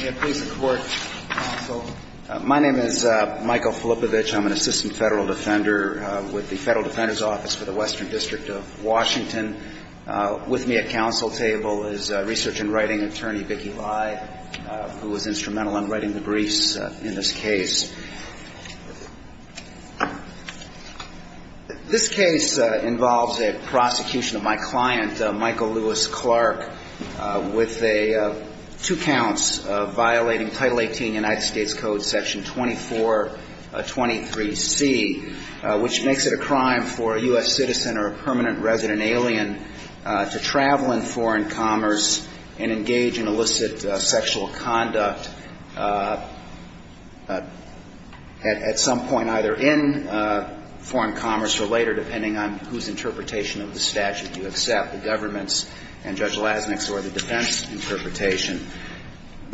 May it please the Court, counsel. My name is Michael Filippovich. I'm an assistant federal defender with the Federal Defender's Office for the Western District of Washington. With me at counsel table is research and writing attorney Vicki Lye, who is instrumental in writing the briefs in this case. This case involves a prosecution of my client, Michael Lewis Clark, with two counts of violating Title 18 United States Code Section 2423C, which makes it a crime for a U.S. citizen or a permanent resident alien to travel in foreign commerce and engage in illicit sexual conduct. The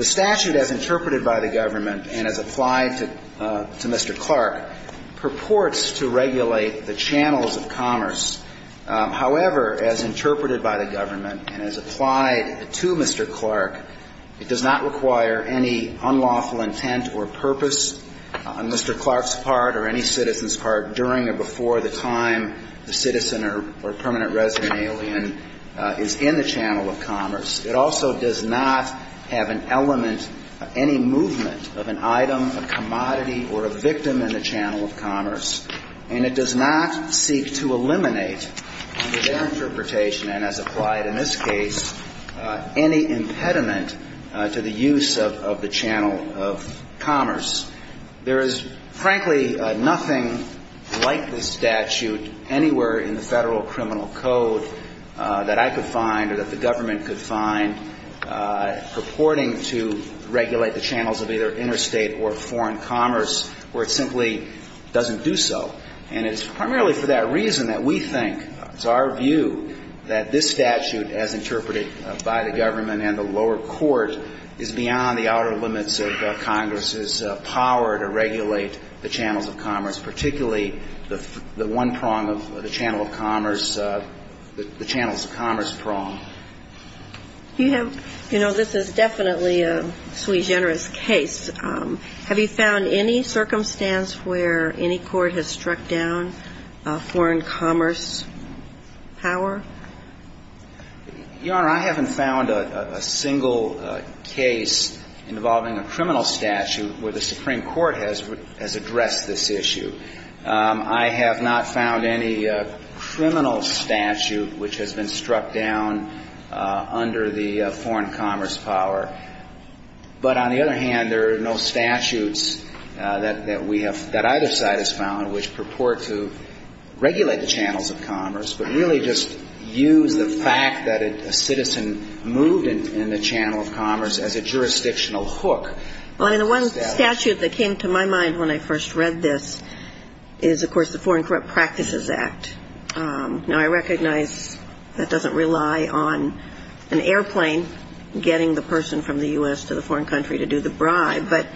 statute, as interpreted by the government and as applied to Mr. Clark, purports to regulate the channels of commerce. However, as interpreted by the government and as applied to Mr. Clark, it does not require any kind of regulation of the channels of commerce. It does not require any unlawful intent or purpose on Mr. Clark's part or any citizen's part during or before the time the citizen or permanent resident alien is in the channel of commerce. It also does not have an element, any movement of an item, a commodity, or a victim in the channel of commerce. And it does not seek to eliminate, under their interpretation and as applied in this case, any impediment to the use of the channel of commerce. There is, frankly, nothing like this statute anywhere in the Federal Criminal Code that I could find or that the government could find purporting to regulate the channels of either interstate or foreign commerce where it simply doesn't do so. And it's primarily for that reason that we think, it's our view, that this statute, as interpreted by the government and the lower court, is beyond the outer limits of Congress's power to regulate the channels of commerce, particularly the one prong of the channel of commerce, the channels of commerce prong. You know, this is definitely a sui generis case. Have you found any circumstance where any court has struck down foreign commerce power? Your Honor, I haven't found a single case involving a criminal statute where the Supreme Court has addressed this issue. I have not found any criminal statute which has been struck down under the foreign commerce power. But on the other hand, there are no statutes that we have, that either side has found, which purport to regulate the channels of commerce, but really just use the fact that a citizen moved in the channel of commerce as a jurisdictional hook. Well, I mean, the one statute that came to my mind when I first read this is, of course, the Foreign Corrupt Practices Act. Now, I recognize that doesn't rely on an airplane getting the person from the U.S. to the foreign country to do the bribe. But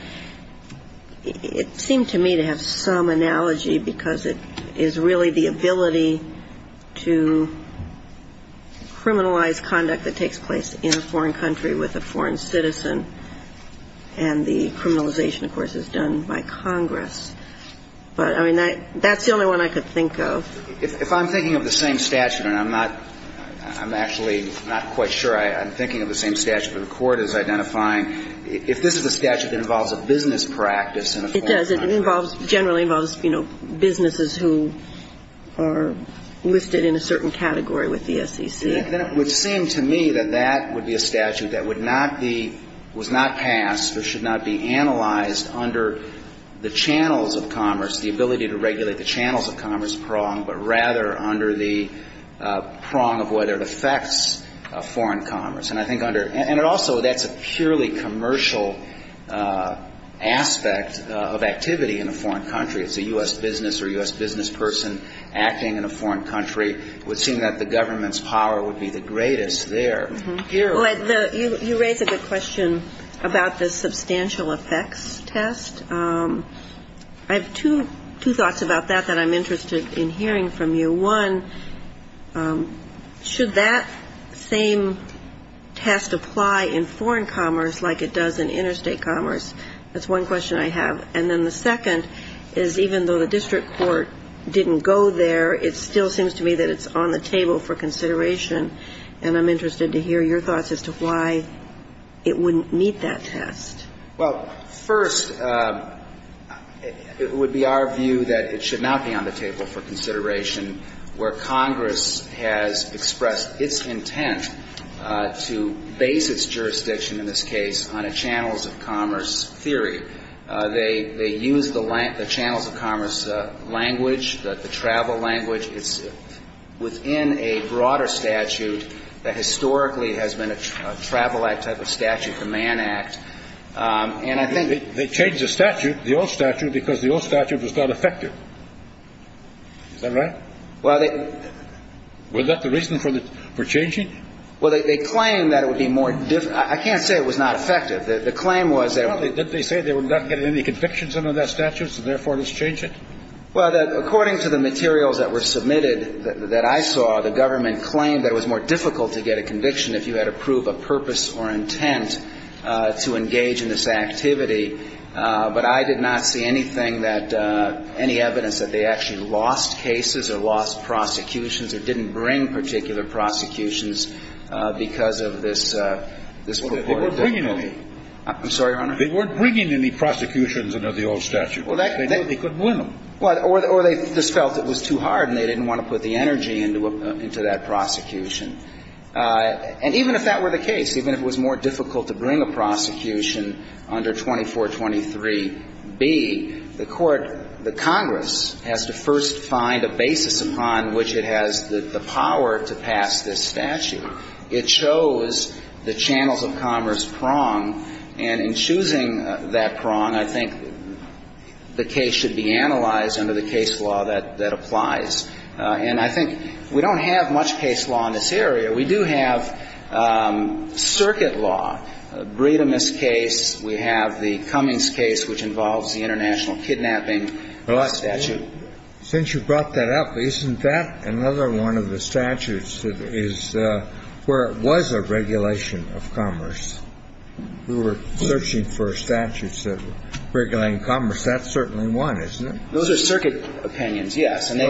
it seemed to me to have some analogy because it is really the ability to criminalize conduct that takes place in a foreign country with a foreign citizen. And the criminalization, of course, is done by Congress. But, I mean, that's the only one I could think of. If I'm thinking of the same statute, and I'm not, I'm actually not quite sure I'm thinking of the same statute, but the Court is identifying, if this is a statute that involves a business practice in a foreign country. It does. It involves, generally involves, you know, businesses who are listed in a certain category with the SEC. Then it would seem to me that that would be a statute that would not be, was not passed or should not be analyzed under the channels of commerce, the ability to regulate the channels of commerce prong, but rather under the prong of whether it affects foreign commerce. And I think under, and it also, that's a purely commercial aspect of activity in a foreign country. It's a U.S. business or U.S. business person acting in a foreign country. It would seem that the government's power would be the greatest there. You raise a good question about the substantial effects test. I have two thoughts about that that I'm interested in hearing from you. One, should that same test apply in foreign commerce like it does in interstate commerce? That's one question I have. And then the second is, even though the district court didn't go there, it still seems to me that it's on the table for consideration. And I'm interested to hear your thoughts as to why it wouldn't meet that test. Well, first, it would be our view that it should not be on the table for consideration where Congress has expressed its intent to base its jurisdiction in this case on a channels of commerce theory. They use the channels of commerce language, the travel language. It's within a broader statute that historically has been a travel act type of statute, the Mann Act. And I think the old statute because the old statute was not effective. Is that right? Well, they – Was that the reason for changing? Well, they claim that it would be more – I can't say it was not effective. The claim was that – That it would not get any convictions under that statute, so therefore, let's change it? Well, according to the materials that were submitted that I saw, the government claimed that it was more difficult to get a conviction if you had to prove a purpose or intent to engage in this activity. But I did not see anything that – any evidence that they actually lost cases or lost prosecutions or didn't bring particular prosecutions because of this purported – Well, they weren't bringing any. I'm sorry, Your Honor? They weren't bringing any prosecutions under the old statute. They couldn't win them. Or they just felt it was too hard and they didn't want to put the energy into that prosecution. And even if that were the case, even if it was more difficult to bring a prosecution under 2423b, the court – the Congress has to first find a basis upon which it has the power to pass this statute. It shows the channels of commerce prong, and in choosing that prong, I think the case should be analyzed under the case law that applies. And I think we don't have much case law in this area. We do have circuit law, the Breedemist case. We have the Cummings case, which involves the international kidnapping statute. Since you brought that up, isn't that another one of the statutes that is – where it was a regulation of commerce? We were searching for statutes that regulated commerce. That's certainly one, isn't it? Those are circuit opinions, yes. And they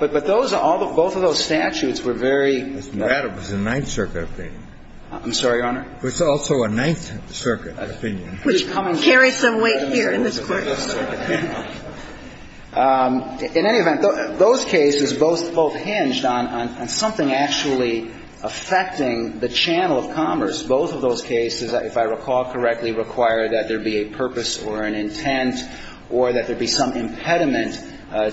– but those – both of those statutes were very – That was a Ninth Circuit opinion. I'm sorry, Your Honor? It was also a Ninth Circuit opinion. Which carries some weight here in this court. In any event, those cases both hinged on something actually affecting the channel of commerce. Both of those cases, if I recall correctly, require that there be a purpose or an intent or that there be some impediment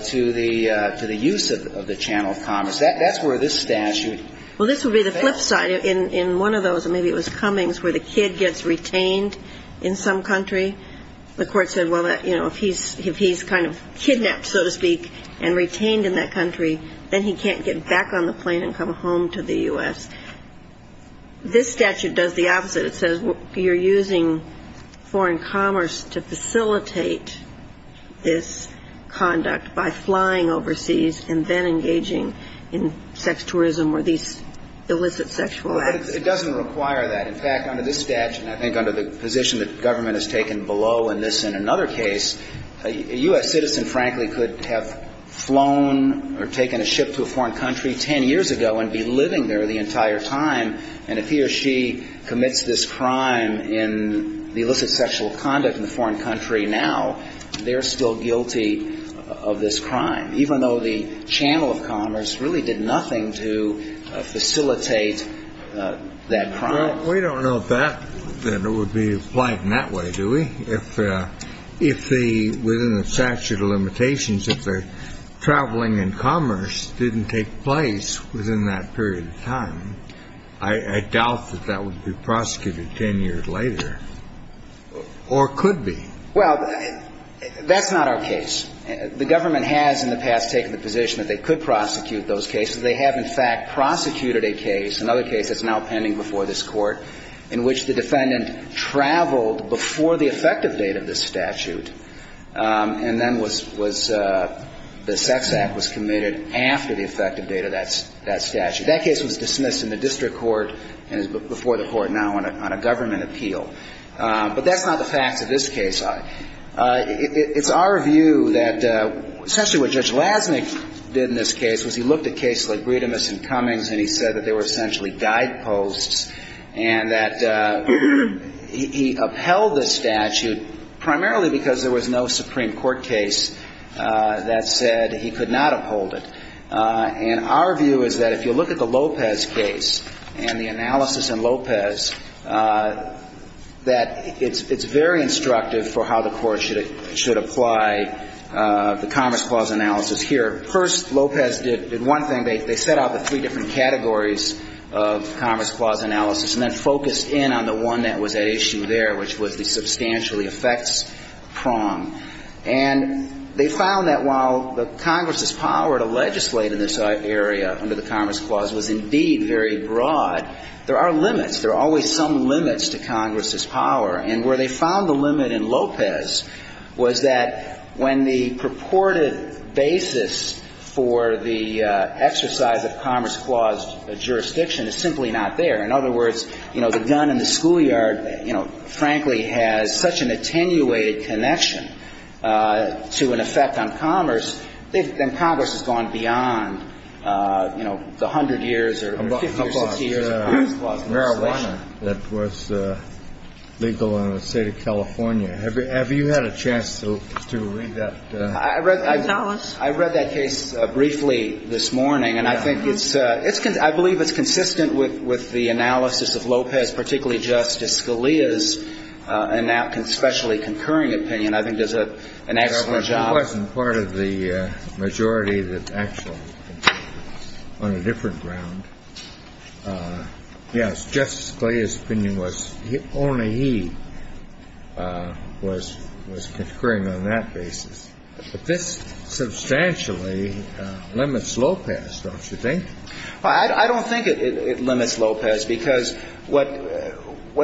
to the use of the channel of commerce. That's where this statute fails. Well, this would be the flip side. In one of those, maybe it was Cummings, where the kid gets retained in some country, the court said, well, you know, if he's kind of kidnapped, so to speak, and retained in that country, then he can't get back on the plane and come home to the U.S. This statute does the opposite. It says you're using foreign commerce to facilitate this conduct by flying overseas and then engaging in sex tourism or these illicit sexual acts. It doesn't require that. In fact, under this statute, and I think under the position that government has taken below in this and another case, a U.S. citizen, frankly, could have flown or taken a ship to a foreign country 10 years ago and be living there the entire time. And if he or she commits this crime in the illicit sexual conduct in a foreign country now, they're still guilty of this crime, even though the channel of commerce really did nothing to facilitate that crime. Well, we don't know if that would be applied in that way, do we? If within the statute of limitations, if the traveling and commerce didn't take place within that period of time, I doubt that that would be prosecuted 10 years later or could be. Well, that's not our case. The government has in the past taken the position that they could prosecute those cases. They have, in fact, prosecuted a case, another case that's now pending before this Court, in which the defendant traveled before the effective date of this statute, and then the sex act was committed after the effective date of that statute. That case was dismissed in the district court and is before the Court now on a government appeal. But that's not the facts of this case. It's our view that essentially what Judge Lasnik did in this case was he looked at cases like Bredemus and Cummings and he said that they were essentially guideposts and that he upheld the statute primarily because there was no Supreme Court case that said he could not uphold it. And our view is that if you look at the Lopez case and the analysis in Lopez, that it's very instructive for how the Court should apply the Commerce Clause analysis here. First, Lopez did one thing. They set out the three different categories of Commerce Clause analysis and then focused in on the one that was at issue there, which was the substantially affects prong. And they found that while the Congress's power to legislate in this area under the Commerce Clause was indeed very broad, there are limits. There are always some limits to Congress's power. And where they found the limit in Lopez was that when the purported basis for the exercise of Commerce Clause jurisdiction is simply not there. In other words, you know, the gun in the schoolyard, you know, frankly has such an attenuated connection to an effect on commerce, then Congress has gone beyond, you know, the 100 years or 50 or 60 years of Commerce Clause legislation. The marijuana that was legal in the State of California, have you had a chance to read that? I read that case briefly this morning. And I think it's consistent. I believe it's consistent with the analysis of Lopez, particularly Justice Scalia's especially concurring opinion. I think it does an excellent job. It wasn't part of the majority that actually on a different ground. Yes, Justice Scalia's opinion was only he was concurring on that basis. But this substantially limits Lopez, don't you think? I don't think it limits Lopez, because what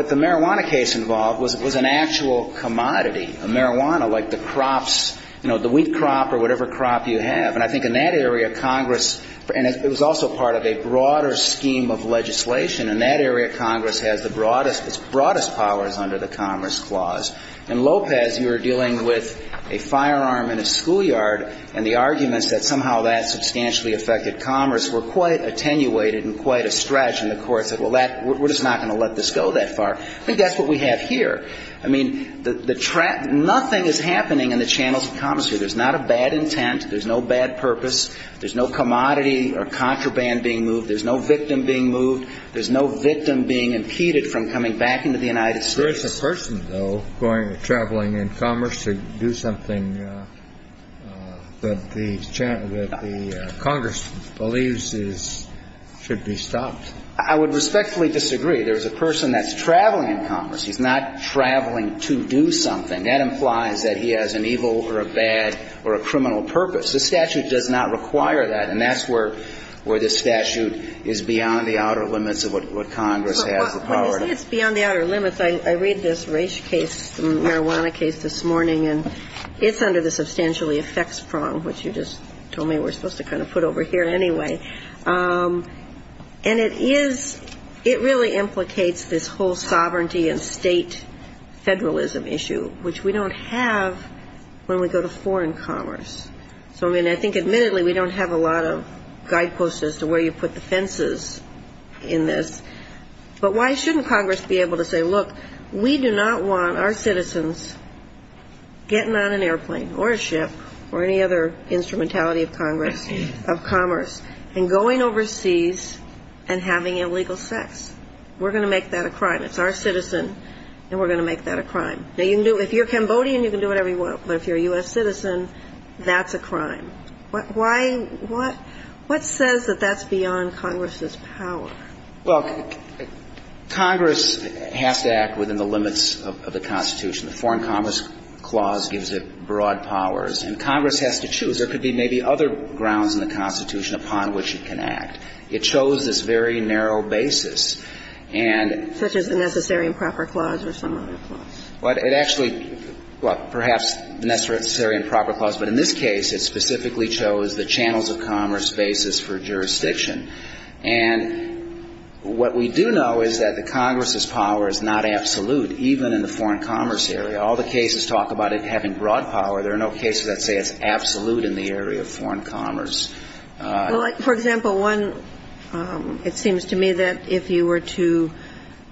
the marijuana case involved was an actual commodity, a marijuana like the crops, you know, the wheat crop or whatever crop you have. And I think in that area, Congress, and it was also part of a broader scheme of legislation. In that area, Congress has the broadest, its broadest powers under the Commerce Clause. In Lopez, you were dealing with a firearm in a schoolyard. And the arguments that somehow that substantially affected commerce were quite attenuated and quite a stretch. And the courts said, well, we're just not going to let this go that far. I think that's what we have here. I mean, nothing is happening in the channels of commerce here. There's not a bad intent. There's no bad purpose. There's no commodity or contraband being moved. There's no victim being moved. There's no victim being impeded from coming back into the United States. There is a person, though, traveling in commerce to do something that the Congress believes should be stopped. I would respectfully disagree. There is a person that's traveling in commerce. He's not traveling to do something. That implies that he has an evil or a bad or a criminal purpose. This statute does not require that. And that's where this statute is beyond the outer limits of what Congress has the power to do. I say it's beyond the outer limits. I read this race case, the marijuana case this morning, and it's under the substantially affects prong, which you just told me we're supposed to kind of put over here anyway. And it is ‑‑ it really implicates this whole sovereignty and state federalism issue, which we don't have when we go to foreign commerce. So, I mean, I think admittedly we don't have a lot of guideposts as to where you put the fences in this. But why shouldn't Congress be able to say, look, we do not want our citizens getting on an airplane or a ship or any other instrumentality of Congress, of commerce, and going overseas and having illegal sex. We're going to make that a crime. It's our citizen, and we're going to make that a crime. Now, if you're Cambodian, you can do whatever you want. But if you're a U.S. citizen, that's a crime. Why ‑‑ what says that that's beyond Congress's power? Well, Congress has to act within the limits of the Constitution. The Foreign Commerce Clause gives it broad powers. And Congress has to choose. There could be maybe other grounds in the Constitution upon which it can act. It chose this very narrow basis. And ‑‑ Such as the Necessary and Proper Clause or some other clause. Well, it actually ‑‑ well, perhaps the Necessary and Proper Clause. But in this case, it specifically chose the Channels of Commerce basis for jurisdiction. And what we do know is that the Congress's power is not absolute, even in the foreign commerce area. All the cases talk about it having broad power. There are no cases that say it's absolute in the area of foreign commerce. Well, for example, one, it seems to me that if you were to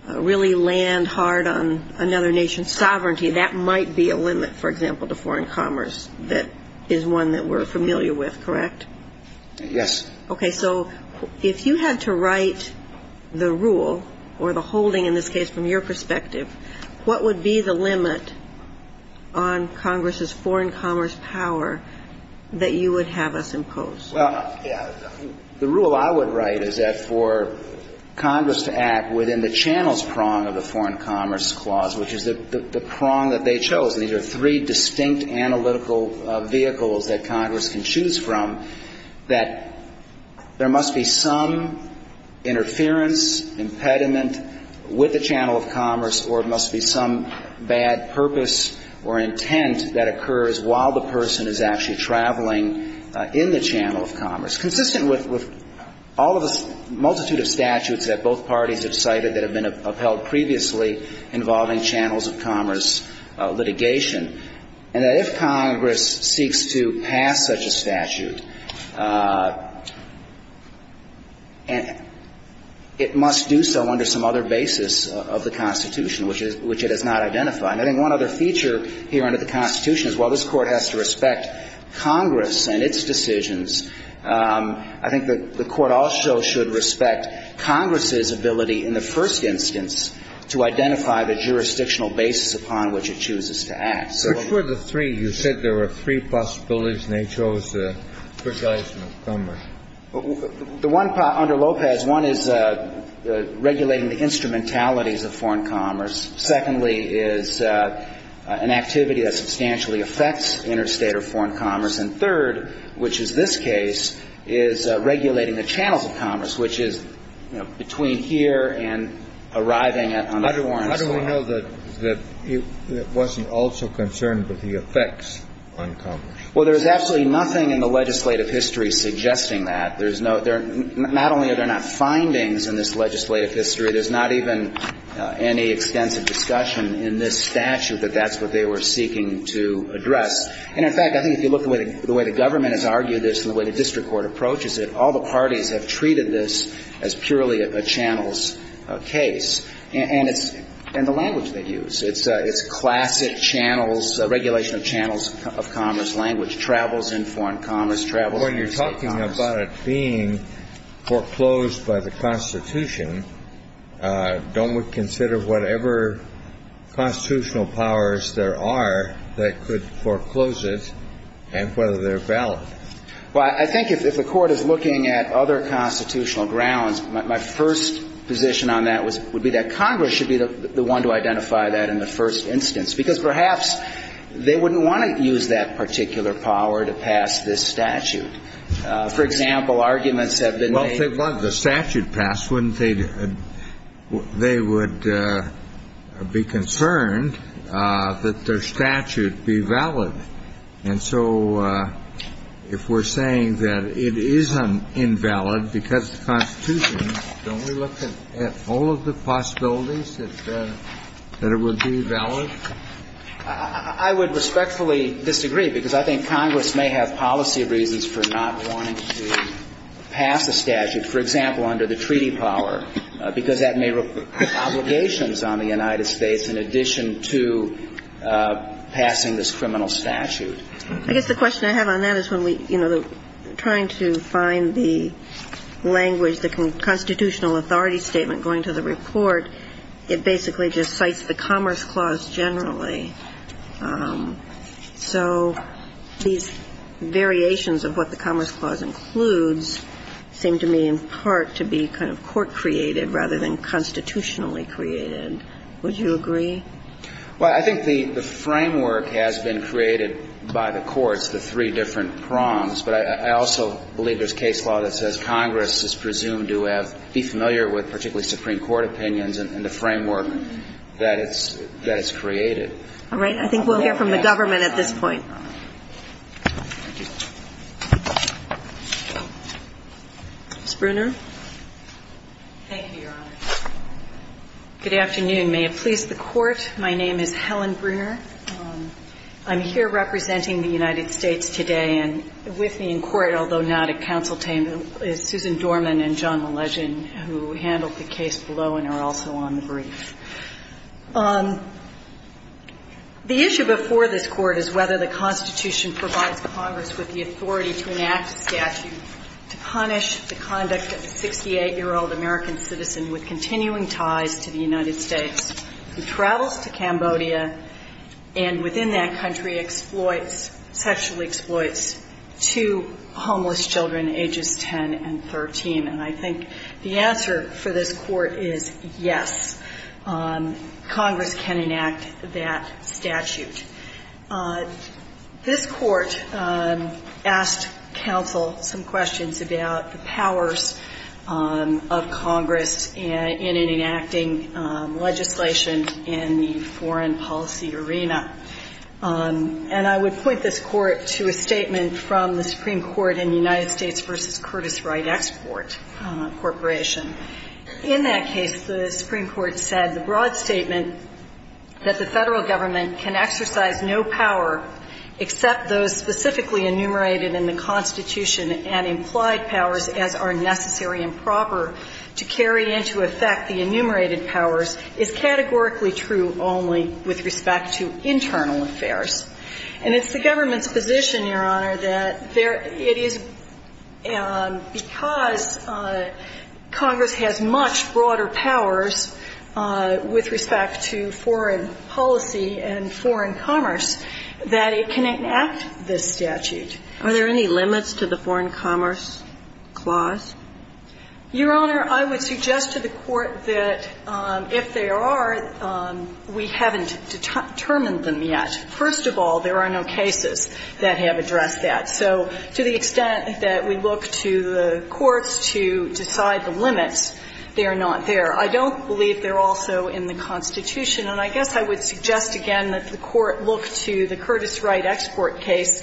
really land hard on another nation's sovereignty, that might be a limit, for example, to foreign commerce. That is one that we're familiar with, correct? Yes. Okay. So if you had to write the rule or the holding in this case from your perspective, what would be the limit on Congress's foreign commerce power that you would have us impose? Well, yeah. The rule I would write is that for Congress to act within the channels prong of the Foreign Commerce Clause, which is the prong that they chose, and these are three distinct analytical vehicles that Congress can choose from, that there must be some interference, impediment with the Channel of Commerce, or it must be some bad purpose or intent that occurs while the person is actually traveling in the Channel of Commerce. Consistent with all of the multitude of statutes that both parties have cited that have been upheld previously involving channels of commerce litigation, and that if Congress seeks to pass such a statute, it must do so under some other basis of the Constitution, which it has not identified. And I think one other feature here under the Constitution is while this Court has to respect Congress and its decisions, I think the Court also should respect Congress's ability in the first instance to identify the jurisdictional basis upon which it chooses to act. Which were the three? You said there were three possibilities and they chose three guys from commerce. The one under Lopez, one is regulating the instrumentalities of foreign commerce. Secondly is an activity that substantially affects interstate or foreign commerce. And third, which is this case, is regulating the channels of commerce, which is between here and arriving on the foreign soil. How do we know that it wasn't also concerned with the effects on commerce? Well, there's absolutely nothing in the legislative history suggesting that. There's no ñ not only are there not findings in this legislative history, there's not even any extensive discussion in this statute that that's what they were seeking to address. And, in fact, I think if you look at the way the government has argued this and the way the district court approaches it, all the parties have treated this as purely a channels case. And it's ñ and the language they use. It's classic channels, regulation of channels of commerce language, travels in foreign commerce, travels in interstate commerce. When you're talking about it being foreclosed by the Constitution, don't we consider whatever constitutional powers there are that could foreclose it and whether they're valid? Well, I think if the Court is looking at other constitutional grounds, my first position on that would be that Congress should be the one to identify that in the first instance. Because perhaps they wouldn't want to use that particular power to pass this statute. For example, arguments have been made ñ that if the statute passed, wouldn't they ñ they would be concerned that their statute be valid. And so if we're saying that it is invalid because of the Constitution, don't we look at all of the possibilities that it would be valid? I would respectfully disagree because I think Congress may have policy reasons for not wanting to pass a statute. For example, under the treaty power. Because that may put obligations on the United States in addition to passing this criminal statute. I guess the question I have on that is when we, you know, trying to find the language, the constitutional authority statement going to the report, it basically just cites the Commerce Clause generally. So these variations of what the Commerce Clause includes seem to me in part to be kind of court-created rather than constitutionally created. Would you agree? Well, I think the framework has been created by the courts, the three different prongs. But I also believe there's case law that says Congress is presumed to have ñ be familiar with particularly Supreme Court opinions and the framework that it's ñ that it's created. All right. I think we'll hear from the government at this point. Ms. Bruner. Thank you, Your Honor. Good afternoon. May it please the Court. My name is Helen Bruner. I'm here representing the United States today. And with me in court, although not at counsel table, is Susan Dorman and John Malegin who handled the case below and are also on the brief. The issue before this Court is whether the Constitution provides Congress with the authority to enact a statute to punish the conduct of a 68-year-old American citizen with continuing ties to the United States who travels to Cambodia and within that country exploits ñ sexually exploits two homeless children ages 10 and 13. And I think the answer for this Court is yes. Congress can enact that statute. This Court asked counsel some questions about the powers of Congress in enacting legislation in the foreign policy arena. And I would point this Court to a statement from the Supreme Court in the United States v. Curtis Wright Export Corporation. In that case, the Supreme Court said the broad statement that the Federal Government can exercise no power except those specifically enumerated in the Constitution and implied powers as are necessary and proper to carry into effect the enumerated powers is categorically true only with respect to internal affairs. And it's the government's position, Your Honor, that it is because Congress has much broader powers with respect to foreign policy and foreign commerce that it can enact this statute. Are there any limits to the foreign commerce clause? Your Honor, I would suggest to the Court that if there are, we haven't determined them yet. First of all, there are no cases that have addressed that. So to the extent that we look to the courts to decide the limits, they are not there. I don't believe they're also in the Constitution. And I guess I would suggest again that the Court look to the Curtis Wright Export case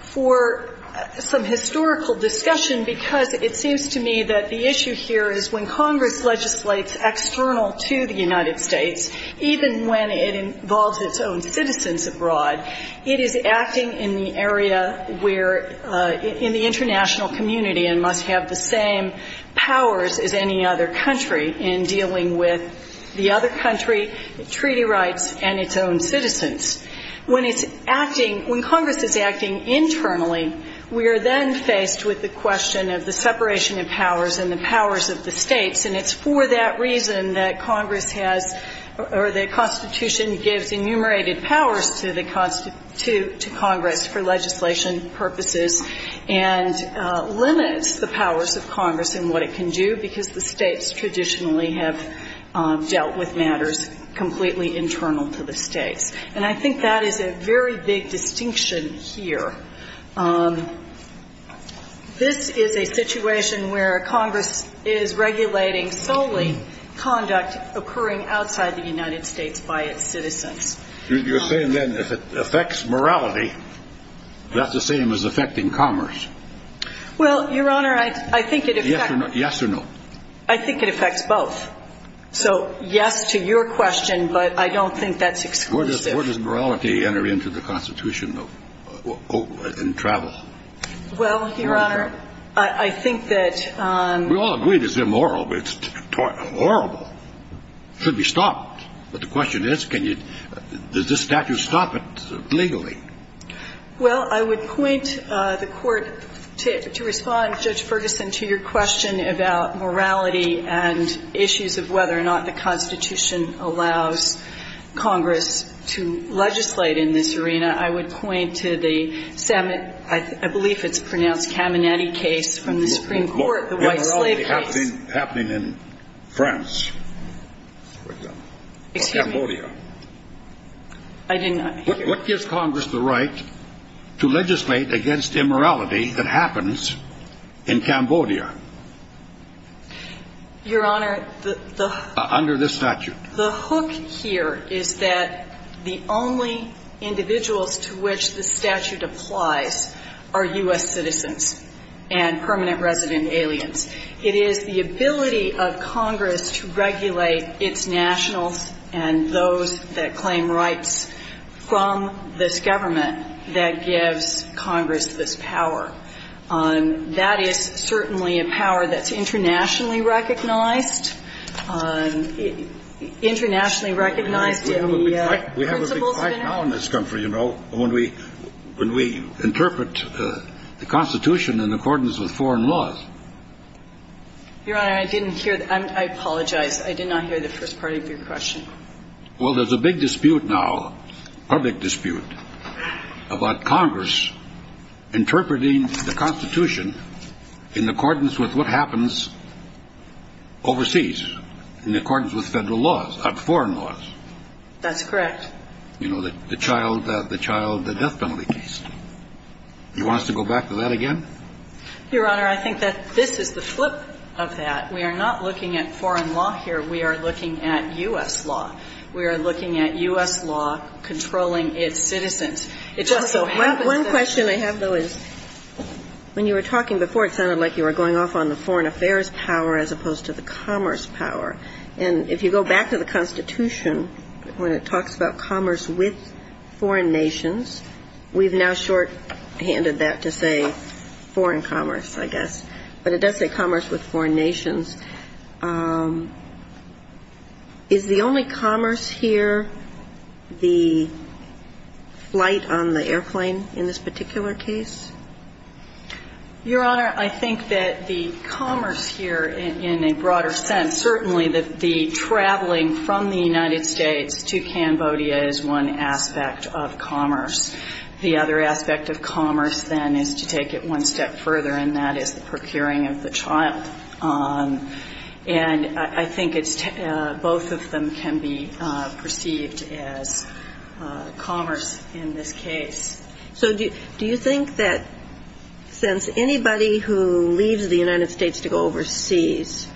for some historical discussion, because it seems to me that the issue here is when Congress legislates external to the United States, even when it involves its own citizens abroad, it is acting in the area where in the international community and must have the same powers as any other country in dealing with the other country, treaty rights, and its own citizens. When it's acting, when Congress is acting internally, we are then faced with the separation of powers and the powers of the states. And it's for that reason that Congress has or the Constitution gives enumerated powers to Congress for legislation purposes and limits the powers of Congress and what it can do, because the states traditionally have dealt with matters completely internal to the states. And I think that is a very big distinction here. This is a situation where Congress is regulating solely conduct occurring outside the United States by its citizens. You're saying then if it affects morality, that's the same as affecting commerce? Well, Your Honor, I think it affects. Yes or no? I think it affects both. So yes to your question, but I don't think that's exclusive. Where does morality enter into the Constitution? Well, Your Honor, I think that we all agree it's immoral, but it's horrible. It should be stopped. But the question is, can you – does this statute stop it legally? Well, I would point the Court to respond, Judge Ferguson, to your question about morality and issues of whether or not the Constitution allows Congress to legislate in this arena. I would point to the – I believe it's pronounced Caminiti case from the Supreme Court, the white slave case. The immorality happening in France, for example, or Cambodia. Excuse me. I did not hear. What gives Congress the right to legislate against immorality that happens in Cambodia? Your Honor, the – Under this statute. The hook here is that the only individuals to which the statute applies are U.S. citizens and permanent resident aliens. It is the ability of Congress to regulate its nationals and those that claim rights from this government that gives Congress this power. That is certainly a power that's internationally recognized. We have a big fight now in this country, you know, when we interpret the Constitution in accordance with foreign laws. Your Honor, I didn't hear. I apologize. I did not hear the first part of your question. Well, there's a big dispute now, public dispute, about Congress interpreting the Constitution in accordance with what happens overseas. In accordance with federal laws, foreign laws. That's correct. You know, the child, the death penalty case. Do you want us to go back to that again? Your Honor, I think that this is the flip of that. We are not looking at foreign law here. We are looking at U.S. law. We are looking at U.S. law controlling its citizens. It just so happens that the – One question I have, though, is when you were talking before, it sounded like you were going off on the foreign affairs power as opposed to the commerce power. And if you go back to the Constitution, when it talks about commerce with foreign nations, we've now shorthanded that to say foreign commerce, I guess. But it does say commerce with foreign nations. Is the only commerce here the flight on the airplane in this particular case? Your Honor, I think that the commerce here in a broader sense, certainly the traveling from the United States to Cambodia is one aspect of commerce. The other aspect of commerce, then, is to take it one step further, and that is the procuring of the child. And I think it's – both of them can be perceived as commerce in this case. So do you think that since anybody who leaves the United States to go overseas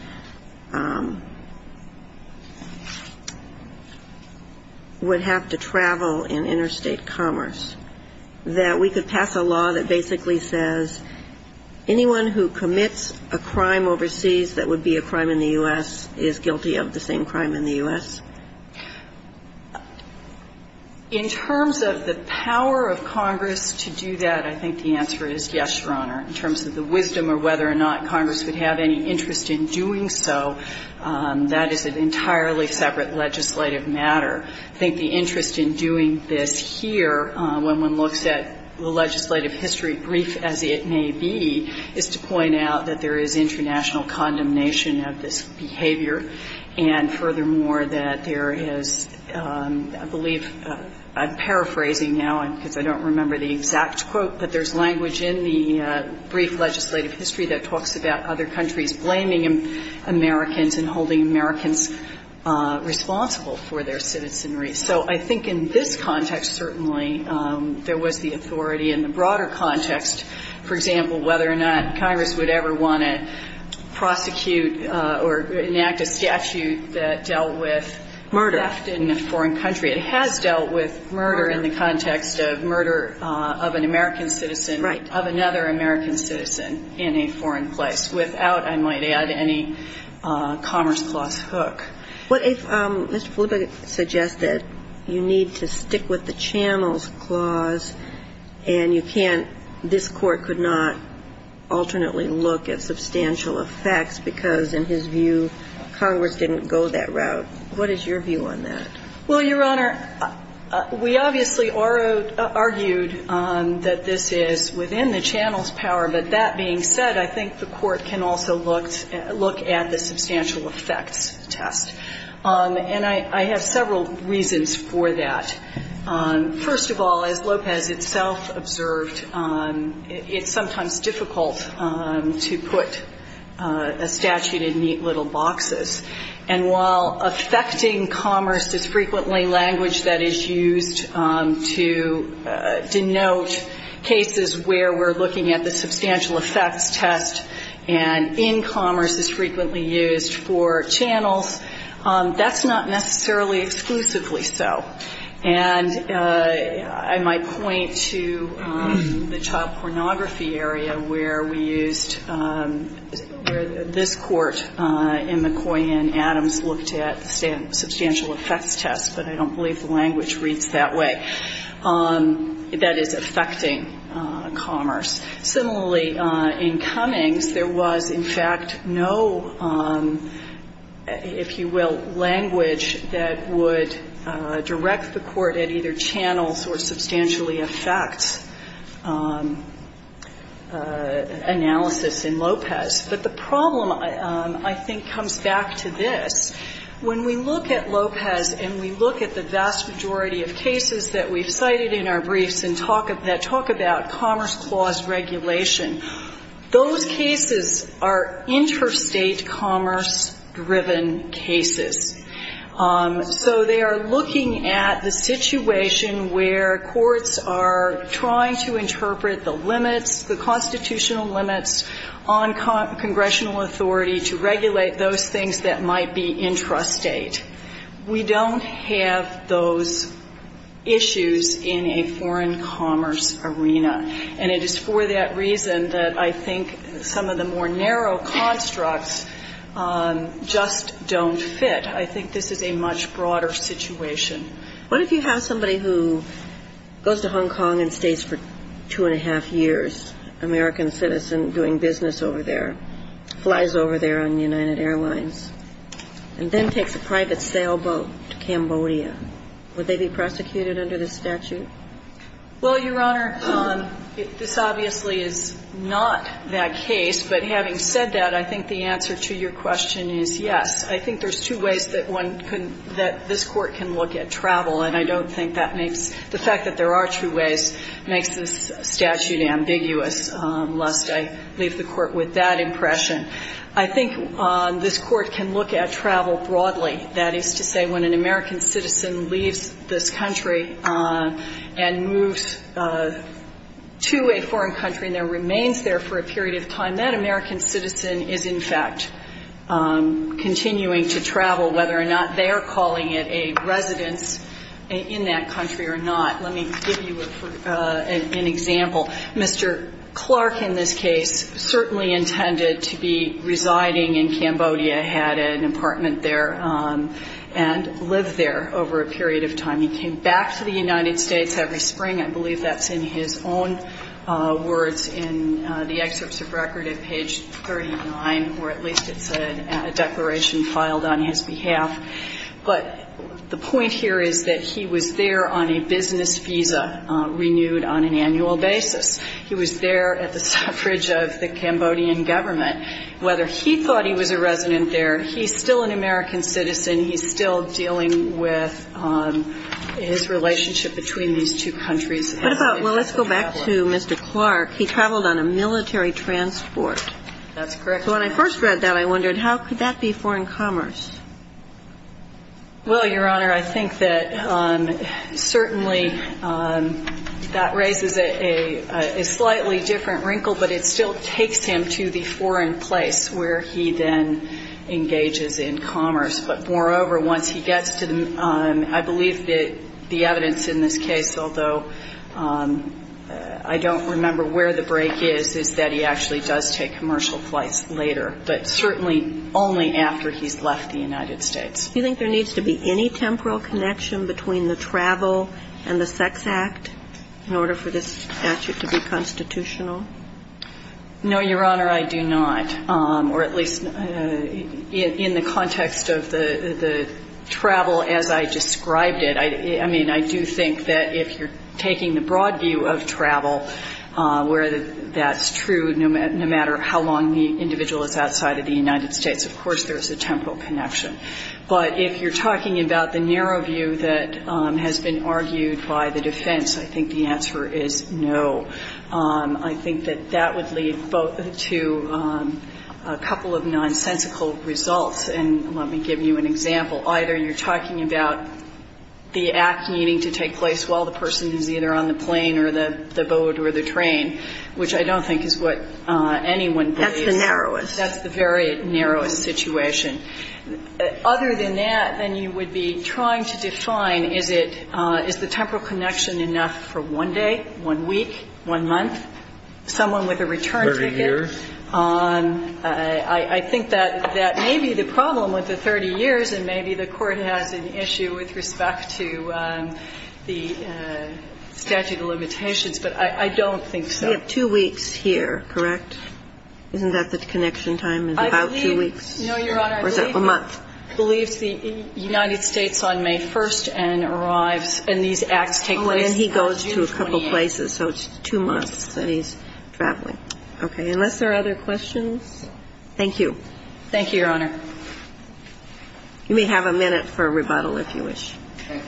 would have to travel in interstate commerce, that we could pass a law that basically says anyone who commits a crime overseas that would be a crime in the U.S. is guilty of the same crime in the U.S.? In terms of the power of Congress to do that, I think the answer is yes, Your Honor. In terms of the wisdom or whether or not Congress would have any interest in doing so, that is an entirely separate legislative matter. I think the interest in doing this here, when one looks at the legislative history, brief as it may be, is to point out that there is international condemnation of this behavior, and furthermore, that there is, I believe, I'm paraphrasing now because I don't remember the exact quote, but there's language in the brief legislative history that talks about other countries blaming Americans and holding Americans responsible for their citizenry. So I think in this context, certainly, there was the authority. In the broader context, for example, whether or not Congress would ever want to prosecute or enact a statute that dealt with theft in a foreign country. It has dealt with murder in the context of murder of an American citizen, of another American citizen in a foreign place, without, I might add, any Commerce Clause hook. What if Mr. Felipe suggested you need to stick with the Channels Clause and you can't, this Court could not alternately look at substantial effects because in his view, Congress didn't go that route. What is your view on that? Well, Your Honor, we obviously argued that this is within the Channels power, but that being said, I think the Court can also look at the substantial effects test. And I have several reasons for that. First of all, as Lopez itself observed, it's sometimes difficult to put a statute in neat little boxes. And while affecting commerce is frequently language that is used to denote cases where we're looking at the substantial effects test and in commerce is frequently used for channels, that's not necessarily exclusively so. And I might point to the child pornography area where we used, where this Court in McCoy and Adams looked at the substantial effects test, but I don't believe the language reads that way. That is affecting commerce. Similarly, in Cummings, there was, in fact, no, if you will, language that would direct the Court at either channels or substantially affect analysis in Lopez. But the problem, I think, comes back to this. When we look at Lopez and we look at the vast majority of cases that we've cited in our briefs that talk about commerce clause regulation, those cases are interstate commerce-driven cases. So they are looking at the situation where courts are trying to interpret the limits, the constitutional limits on congressional authority to regulate those things that might be intrastate. We don't have those issues in a foreign commerce arena. And it is for that reason that I think some of the more narrow constructs just don't fit. I think this is a much broader situation. What if you have somebody who goes to Hong Kong and stays for two and a half years, American citizen doing business over there, flies over there on United Airlines, and then takes a private sailboat to Cambodia? Would they be prosecuted under this statute? Well, Your Honor, this obviously is not that case, but having said that, I think the answer to your question is yes. I think there's two ways that one can – that this Court can look at travel, and I don't think that makes – the fact that there are two ways makes this statute ambiguous lest I leave the Court with that impression. I think this Court can look at travel broadly. That is to say, when an American citizen leaves this country and moves to a foreign country and then remains there for a period of time, that American citizen is in fact continuing to travel, whether or not they are calling it a residence in that country or not. Let me give you an example. Mr. Clark, in this case, certainly intended to be residing in Cambodia, had an apartment there, and lived there over a period of time. He came back to the United States every spring. I believe that's in his own words in the excerpts of record at page 39, or at least it's a declaration filed on his behalf. But the point here is that he was there on a business visa renewed on an annual basis. He was there at the suffrage of the Cambodian government. Whether he thought he was a resident there, he's still an American citizen. He's still dealing with his relationship between these two countries. And he was a traveler. What about – well, let's go back to Mr. Clark. He traveled on a military transport. That's correct. So when I first read that, I wondered, how could that be foreign commerce? Well, Your Honor, I think that certainly that raises a slightly different wrinkle, but it still takes him to the foreign place where he then engages in commerce. But moreover, once he gets to the – I believe that the evidence in this case, although I don't remember where the break is, is that he actually does take commercial flights later, but certainly only after he's left the United States. Do you think there needs to be any temporal connection between the travel and the sex act in order for this statute to be constitutional? No, Your Honor, I do not, or at least in the context of the travel as I described it. I mean, I do think that if you're taking the broad view of travel where that's true no matter how long the individual is outside of the United States, of course there's a temporal connection. But if you're talking about the narrow view that has been argued by the defense, I think the answer is no. I think that that would lead to a couple of nonsensical results, and let me give you an example. Either you're talking about the act needing to take place while the person is either on the plane or the boat or the train, which I don't think is what anyone believes. That's the narrowest. That's the very narrowest situation. Other than that, then you would be trying to define is it, is the temporal connection enough for one day, one week, one month, someone with a return ticket? Thirty years. I think that that may be the problem with the 30 years, and maybe the Court has an issue with respect to the statute of limitations, but I don't think so. We have two weeks here, correct? Isn't that the connection time is about two weeks? No, Your Honor. Or is that a month? I believe the United States on May 1st and arrives, and these acts take place June 28th. Oh, and he goes to a couple of places, so it's two months that he's traveling. Okay. Unless there are other questions? Thank you. Thank you, Your Honor. You may have a minute for rebuttal, if you wish. Thank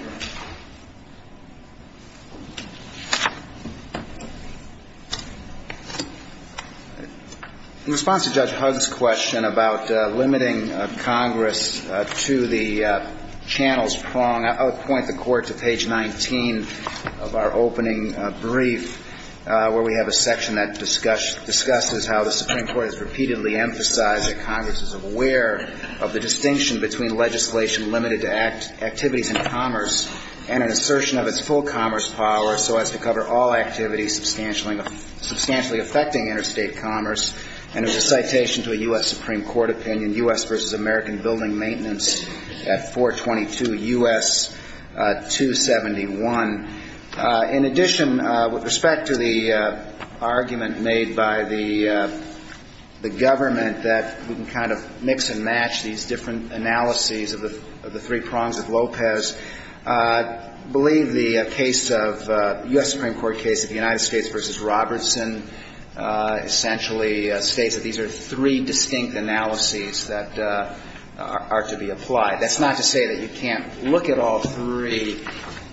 you. In response to Judge Hugg's question about limiting Congress to the channels prong, I'll point the Court to page 19 of our opening brief, where we have a section that discusses how the Supreme Court has repeatedly emphasized that Congress is aware of the distinction between legislation limited to activities in commerce and an assertion of its full commerce power so as to cover all activities substantially affecting interstate commerce. And it was a citation to a U.S. Supreme Court opinion, U.S. v. American Building Maintenance at 422 U.S. 271. In addition, with respect to the argument made by the government that we can kind of mix and match these different analyses of the three prongs of Lopez, I believe the case of the U.S. Supreme Court case of the United States v. Robertson essentially states that these are three distinct analyses that are to be applied. That's not to say that you can't look at all three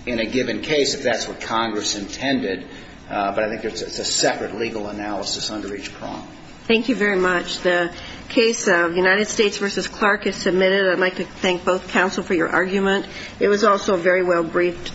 in a given case if that's what Congress intended, but I think it's a separate legal analysis under each prong. Thank you very much. The case of United States v. Clark is submitted. I'd like to thank both counsel for your argument. It was also very well briefed.